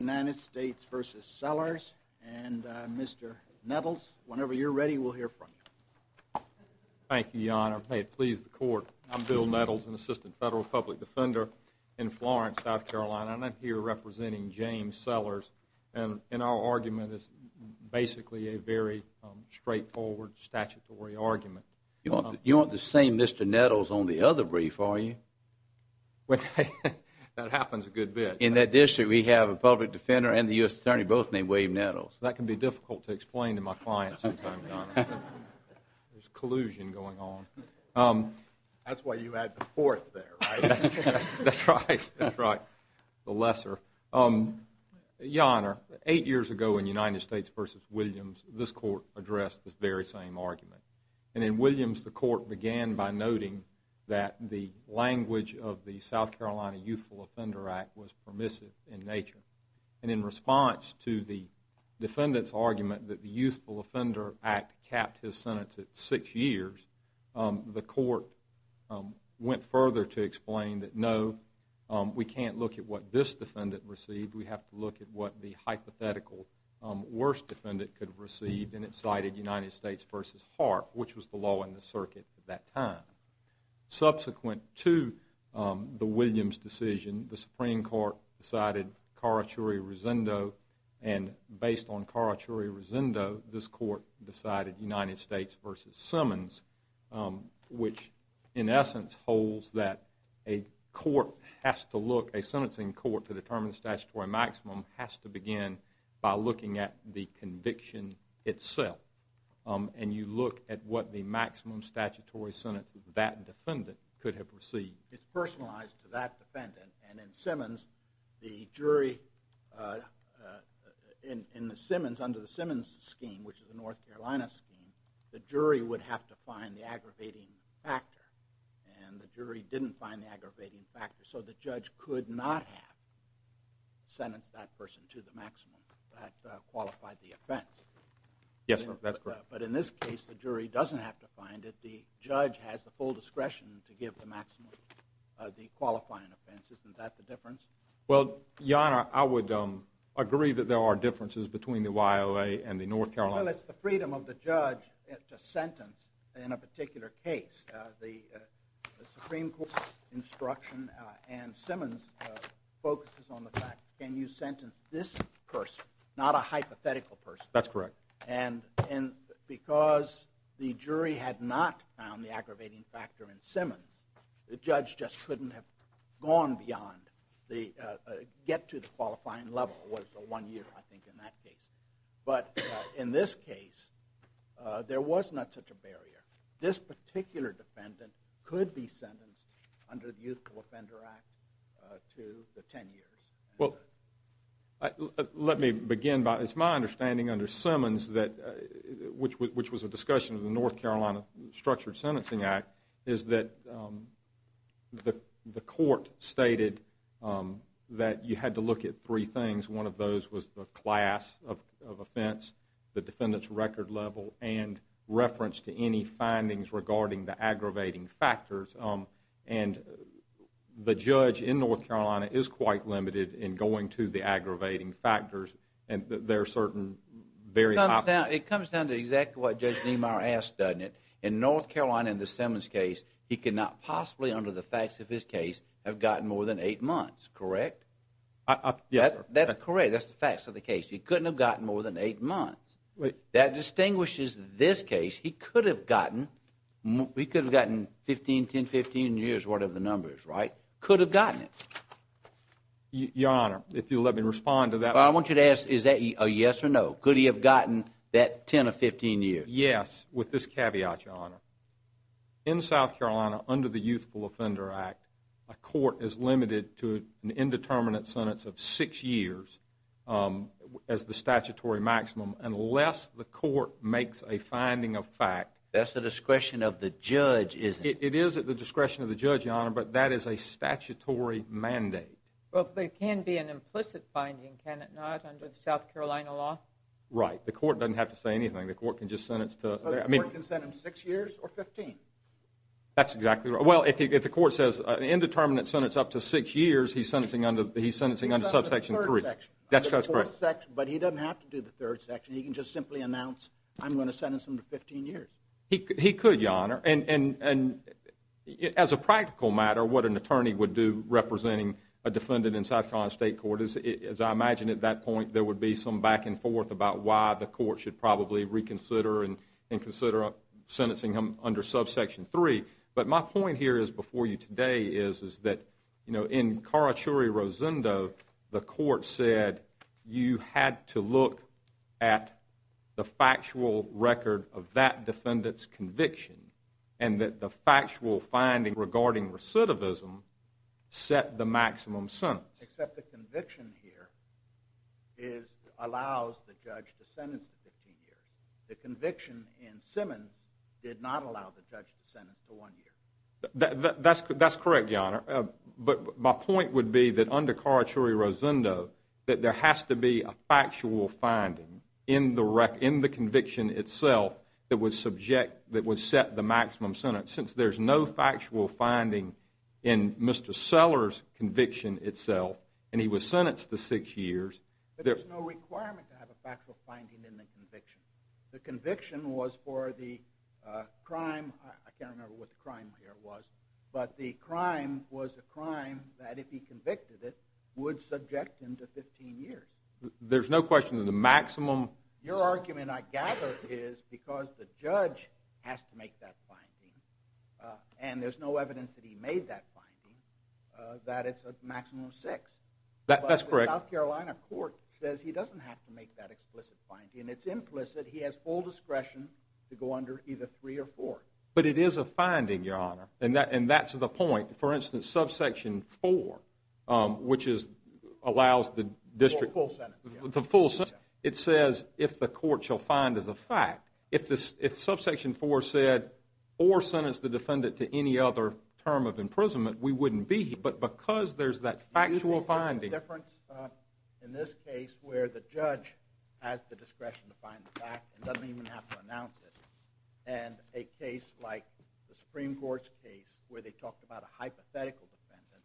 United States v. Sellers and Mr. Nettles, whenever you're ready, we'll hear from you. Thank you, Your Honor. May it please the Court, I'm Bill Nettles, an assistant federal public defender in Florence, South Carolina, and I'm here representing James Sellers, and our argument is basically a very straightforward statutory argument. You aren't the same Mr. Nettles on the other brief, are you? Well, that happens a good bit. In that district, we have a public defender and the U.S. Attorney, both named William Nettles. That can be difficult to explain to my clients sometimes, Your Honor. There's collusion going on. That's why you add the fourth there, right? That's right, that's right, the lesser. Your Honor, eight years ago in United States v. Williams, this Court addressed this very same argument, and in Williams, the Court began by noting that the language of the South Carolina Youthful Offender Act was permissive in nature, and in response to the defendant's argument that the Youthful Offender Act capped his sentence at six years, the Court went further to explain that no, we can't look at what this defendant received, we have to look at what the hypothetical worst defendant could have received, and it cited United States v. Hart, which was the law in the circuit at that time. Subsequent to the Williams decision, the Supreme Court decided Carachuri-Rosendo, and based on Carachuri-Rosendo, this Court decided United States v. Simmons, which in essence holds that a court has to look, a sentencing court to determine statutory maximum has to begin by looking at the conviction itself, and you look at what the maximum statutory sentence that defendant could have received. It's personalized to that defendant, and in Simmons, the jury, in the Simmons, under the Simmons scheme, which is a North Carolina scheme, the jury would have to find the aggravating factor, and the jury didn't find the aggravating factor, so the judge could not have sentenced that person to the maximum that qualified the offense. Yes, that's correct. But in this case, the jury doesn't have to find it. The judge has the full discretion to give the maximum, the qualifying offense. Isn't that the difference? Well, Your Honor, I would agree that there are differences between the YLA and the North Carolina. Well, it's the freedom of the judge to sentence in a particular case. The Supreme Court's instruction in Simmons focuses on the fact, can you sentence this person, not a hypothetical person? That's correct. And because the jury had not found the aggravating factor in Simmons, the judge just couldn't have gone beyond, get to the qualifying level was a one-year, I think, in that case. But in this case, there was not such a barrier. This particular defendant could be sentenced under the Youthful Offender Act to the 10 years. Well, let me begin by, it's my understanding under Simmons that, which was a discussion of the North Carolina Structured Sentencing Act, is that the court stated that you had to look at three things. One of those was the class of offense, the defendant's record level, and reference to any findings regarding the aggravating factors. And the judge in North Carolina is quite limited in going to the aggravating factors. It comes down to exactly what Judge Niemeyer asked, doesn't it? In North Carolina, in the Simmons case, he could not possibly, under the facts of his case, have gotten more than eight months, correct? That's correct. That's the facts of the case. He couldn't have gotten more than eight months. That distinguishes this case. He could have gotten 15, 10, 15 years, whatever the number is, right? Could have gotten it. Your Honor, if you'll let me respond to that. I want you to ask, is that a yes or no? Could he have gotten that 10 or 15 years? Yes, with this caveat, Your Honor. In South Carolina, under the Youthful Offender Act, a court is limited to an indeterminate sentence of six years as the statutory maximum, unless the court makes a finding of fact. That's the discretion of the judge, isn't it? It is at the discretion of the judge, Your Honor. But that is a statutory mandate. Well, it can be an implicit finding, can it not, under the South Carolina law? Right. The court doesn't have to say anything. The court can just sentence to... So the court can sentence him six years or 15? That's exactly right. Well, if the court says an indeterminate sentence up to six years, he's sentencing under Subsection 3. That's correct. But he doesn't have to do the third section. He can just simply announce, I'm going to sentence him to 15 years. He could, Your Honor. And as a practical matter, what an attorney would do representing a defendant in South Carolina State Court is, as I imagine at that point, there would be some back and forth about why the court should probably reconsider and consider sentencing him under Subsection 3. But my point here is, before you today, is that, you know, in Karachuri-Rosendo, the court said you had to look at the factual record of that defendant's conviction and that the factual finding regarding recidivism set the maximum sentence. Except the conviction here allows the judge to sentence to 15 years. The conviction in Simmons did not allow the judge to sentence to one year. That's correct, Your Honor. But my point would be that under Karachuri-Rosendo, that there has to be a factual finding in the conviction itself that would subject, that would set the maximum sentence. Since there's no factual finding in Mr. Sellers' conviction itself, and he was sentenced to six years. There's no requirement to have a factual finding in the conviction. The conviction was for the crime, I can't remember what the crime here was, but the crime was a crime that, if he convicted it, would subject him to 15 years. There's no question that the maximum... Your argument, I gather, is because the judge has to make that finding, and there's no evidence that he made that finding, that it's a maximum of six. That's correct. But the South Carolina court says he doesn't have to make that explicit finding. It's implicit, he has full discretion to go under either three or four. But it is a finding, Your Honor, and that's the point. For instance, subsection four, which allows the district... The full sentence. The full sentence. It says if the court shall find as a fact. If subsection four said, or sentenced the defendant to any other term of imprisonment, we wouldn't be here. But because there's that factual finding... Do you think there's a difference in this case where the judge has the discretion to find the fact and doesn't even have to announce it? And a case like the Supreme Court's case where they talked about a hypothetical defendant,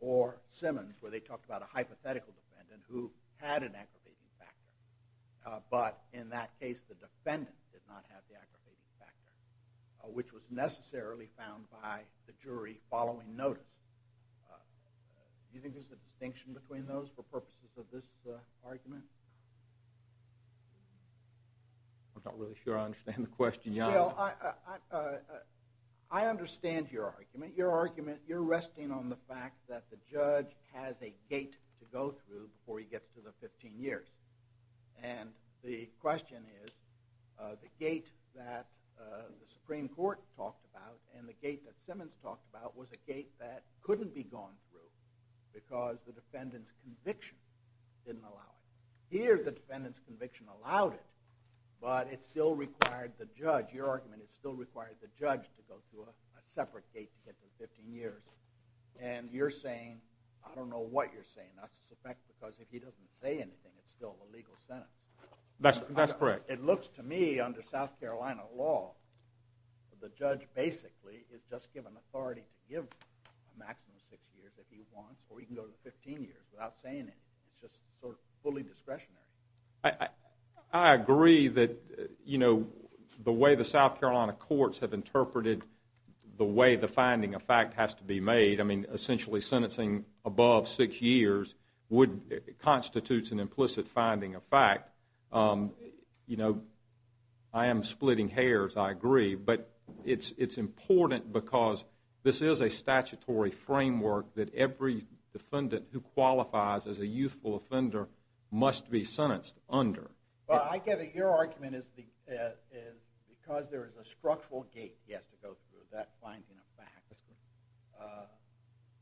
or Simmons, where they talked about a hypothetical defendant who had an aggravating factor. But in that case, the defendant did not have the aggravating factor, which was necessarily found by the jury following notice. Do you think there's a distinction between those for purposes of this argument? I'm not really sure I understand the question, Your Honor. Well, I understand your argument. Your argument, you're resting on the fact that the judge has a gate to go through before he gets to the 15 years. And the question is, the gate that the Supreme Court talked about and the gate that Simmons talked about was a gate that couldn't be gone through because the defendant's conviction didn't allow it. Here, the defendant's conviction allowed it, but it still required the judge, your argument, it still required the judge to go through a separate gate to get to the 15 years. And you're saying, I don't know what you're saying. I suspect because if he doesn't say anything, it's still a legal sentence. That's correct. It looks to me, under South Carolina law, the judge basically is just given authority to give a maximum of six years if he wants, or he can go to 15 years without saying anything. It's just sort of fully discretionary. I agree that, you know, the way the South Carolina courts have interpreted the way the finding of fact has to be made, I mean, essentially, sentencing above six years constitutes an implicit finding of fact. You know, I am splitting hairs, I agree. But it's important because this is a statutory framework that every defendant who qualifies as a youthful offender must be sentenced under. Well, I get it. Your argument is because there is a structural gate he has to go through, that finding of fact,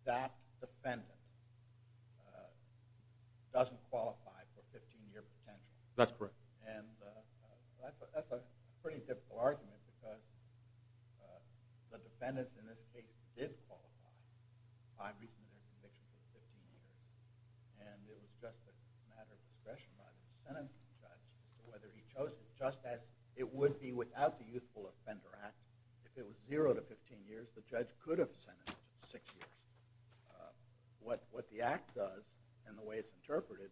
that defendant doesn't qualify for 15-year potential. That's correct. And that's a pretty difficult argument because the defendants in this case did qualify by reason of their conviction for 15 years. And it was just a matter of discretion by the sentencing judge whether he chose it, just as it would be without the Youthful Offender Act. If it was zero to 15 years, the judge could have sentenced six years. What the Act does, and the way it's interpreted,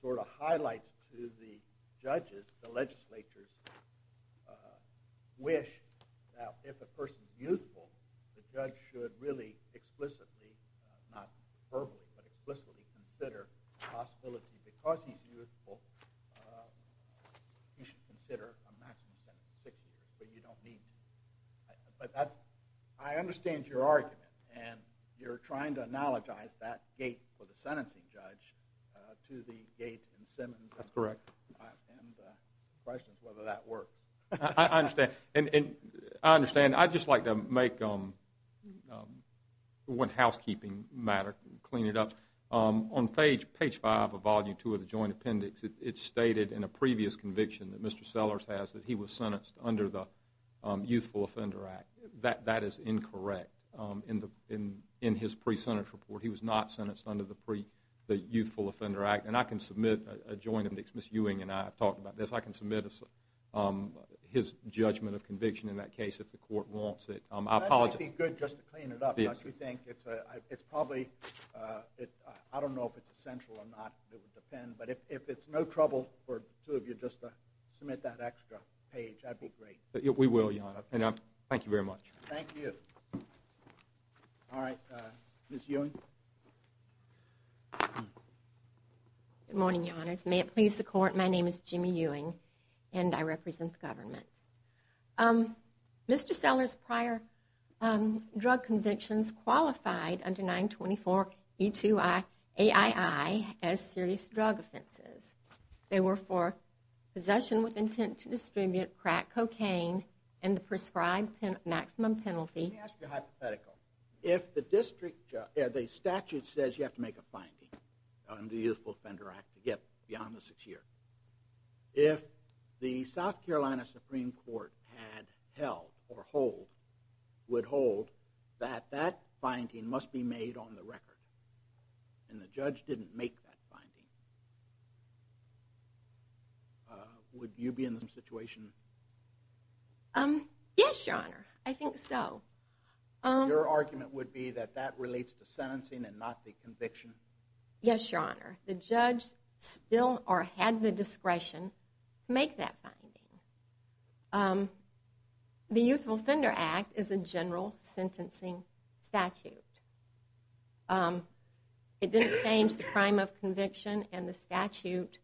sort of highlights to the judges, the legislatures, wish that if a person is youthful, the judge should really explicitly, not verbally, but explicitly consider the possibility. Because he's youthful, he should consider a maximum sentence of six years. But you don't need to. I understand your argument, and you're trying to analogize that gate for the sentencing judge to the gate in Simmons. That's correct. And the question is whether that worked. I understand. I understand. I'd just like to make one housekeeping matter, clean it up. On page five of volume two of the Joint Appendix, it's stated in a previous conviction that Mr. Sellers has, that he was sentenced under the Youthful Offender Act. That is incorrect. In his pre-sentence report, he was not sentenced under the Youthful Offender Act. And I can submit a Joint Appendix. Ms. Ewing and I have talked about this. I can submit his judgment of conviction in that case if the court wants it. I apologize. That might be good just to clean it up. Yes. Because we think it's probably, I don't know if it's essential or not. It would depend. But if it's no trouble for the two of you just to submit that extra page, that'd be great. We will, Your Honor. And thank you very much. Thank you. All right. Ms. Ewing. Good morning, Your Honors. May it please the court. My name is Jimmy Ewing and I represent the government. Mr. Sellers' prior drug convictions qualified under 924 E2AII as serious drug offenses. They were for possession with intent to distribute crack cocaine and the prescribed maximum penalty. Let me ask you a hypothetical. If the statute says you have to make a finding under the Youthful Offender Act to get beyond the six years, if the South Carolina Supreme Court had held or would hold that that finding must be made on the record and the judge didn't make that finding, would you be in the same situation? Yes, Your Honor. I think so. Your argument would be that that relates to sentencing and not the conviction? Yes, Your Honor. The judge still or had the discretion to make that finding. The Youthful Offender Act is a general sentencing statute. It didn't change the crime of conviction and the statute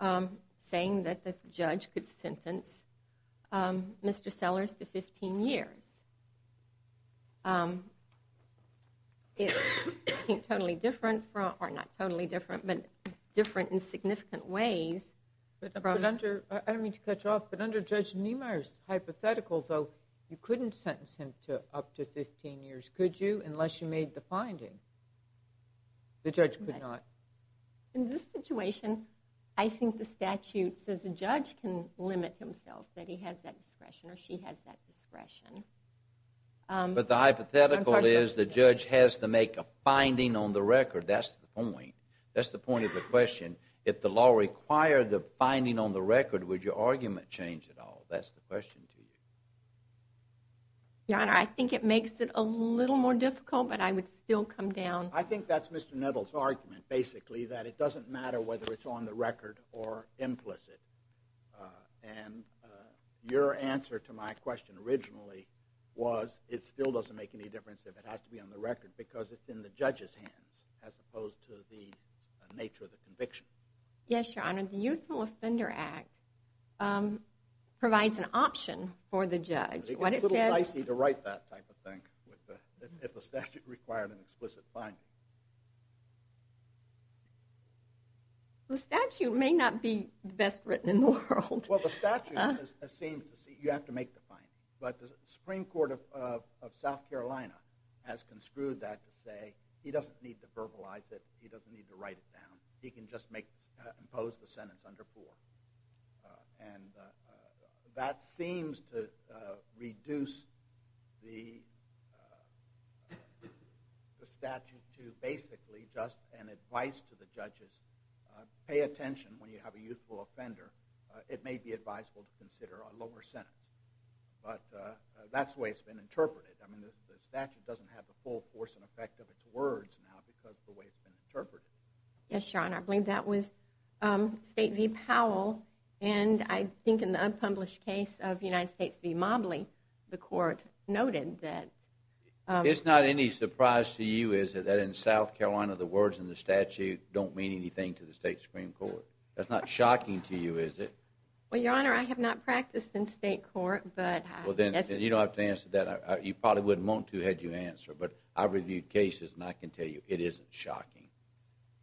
saying that the judge could sentence Mr. Sellers to 15 years. It's totally different, or not totally different, but different in significant ways. I don't mean to cut you off, but under Judge Niemeyer's hypothetical, though, you couldn't sentence him to up to 15 years, could you? Unless you made the finding. The judge could not. In this situation, I think the statute says a judge can limit himself, that he has that discretion or she has that discretion. But the hypothetical is the judge has to make a finding on the record. That's the point. That's the point of the question. If the law required the finding on the record, would your argument change at all? That's the question to you. Your Honor, I think it makes it a little more difficult, but I would still come down. I think that's Mr. Nettles' argument, basically, that it doesn't matter whether it's on the record or implicit. And your answer to my question originally was, it still doesn't make any difference if it has to be on the record, because it's in the judge's hands, as opposed to the nature of the conviction. Yes, Your Honor. The Youthful Offender Act provides an option for the judge. It's a little dicey to write that type of thing if the statute required an explicit finding. The statute may not be the best written in the world. Well, the statute seems to say you have to make the finding. But the Supreme Court of South Carolina has construed that to say, he doesn't need to verbalize it. He doesn't need to write it down. He can just impose the sentence under 4. And that seems to reduce the statute to basically just an advice to the judges. Pay attention when you have a youthful offender. It may be advisable to consider a lower sentence. But that's the way it's been interpreted. I mean, the statute doesn't have the full force and effect of its words now, because of the way it's been interpreted. Yes, Your Honor. I believe that was State v. Powell. And I think in the unpublished case of United States v. Mobley, the court noted that... It's not any surprise to you, is it, that in South Carolina, the words in the statute don't mean anything to the state Supreme Court? That's not shocking to you, is it? Well, Your Honor, I have not practiced in state court, but... Well, then you don't have to answer that. You probably wouldn't want to had you answered. But I've reviewed cases, and I can tell you, it isn't shocking.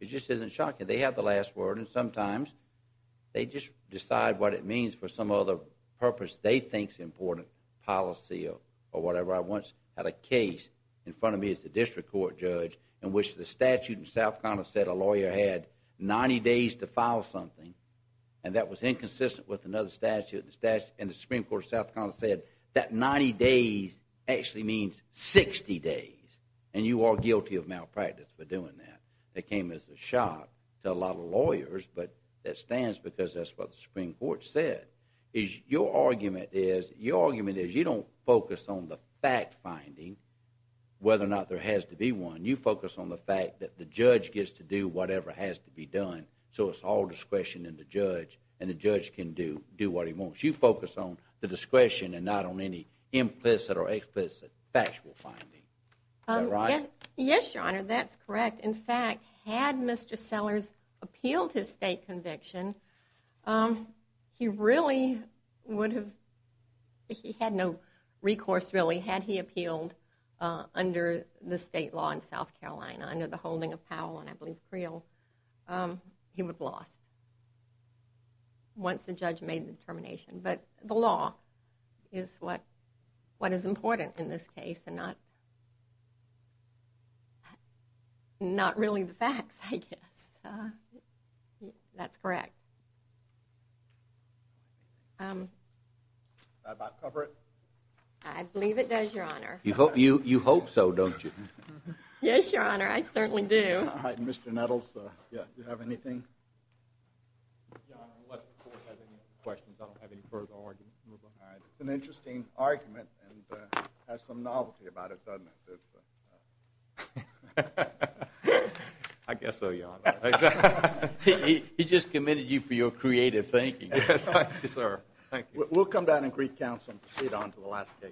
It just isn't shocking. They have the last word. And sometimes, they just decide what it means for some other purpose they think is important, policy or whatever. I once had a case in front of me as a district court judge in which the statute in South Carolina said a lawyer had 90 days to file something. And that was inconsistent with another statute. And the Supreme Court of South Carolina said, that 90 days actually means 60 days. And you are guilty of malpractice for doing that. That came as a shock to a lot of lawyers, but that stands because that's what the Supreme Court said. Your argument is, you don't focus on the fact-finding, whether or not there has to be one. You focus on the fact that the judge gets to do whatever has to be done. So it's all discretion in the judge, and the judge can do what he wants. You focus on the discretion and not on any implicit or explicit factual finding. Is that right? Yes, Your Honor, that's correct. In fact, had Mr. Sellers appealed his state conviction, he really would have, he had no recourse really, had he appealed under the state law in South Carolina, under the holding of Powell and I believe Creel, he would have lost once the judge made the determination. But the law is what is important in this case, and not really the facts, I guess. That's correct. That about cover it? I believe it does, Your Honor. You hope so, don't you? Yes, Your Honor, I certainly do. All right, Mr. Nettles, do you have anything? Your Honor, unless the court has any questions, I don't have any further argument to move on. It's an interesting argument and has some novelty about it, doesn't it? I guess so, Your Honor. He just committed you for your creative thinking. Yes, thank you, sir. Thank you. We'll come back in Greek Council and proceed on to the last case.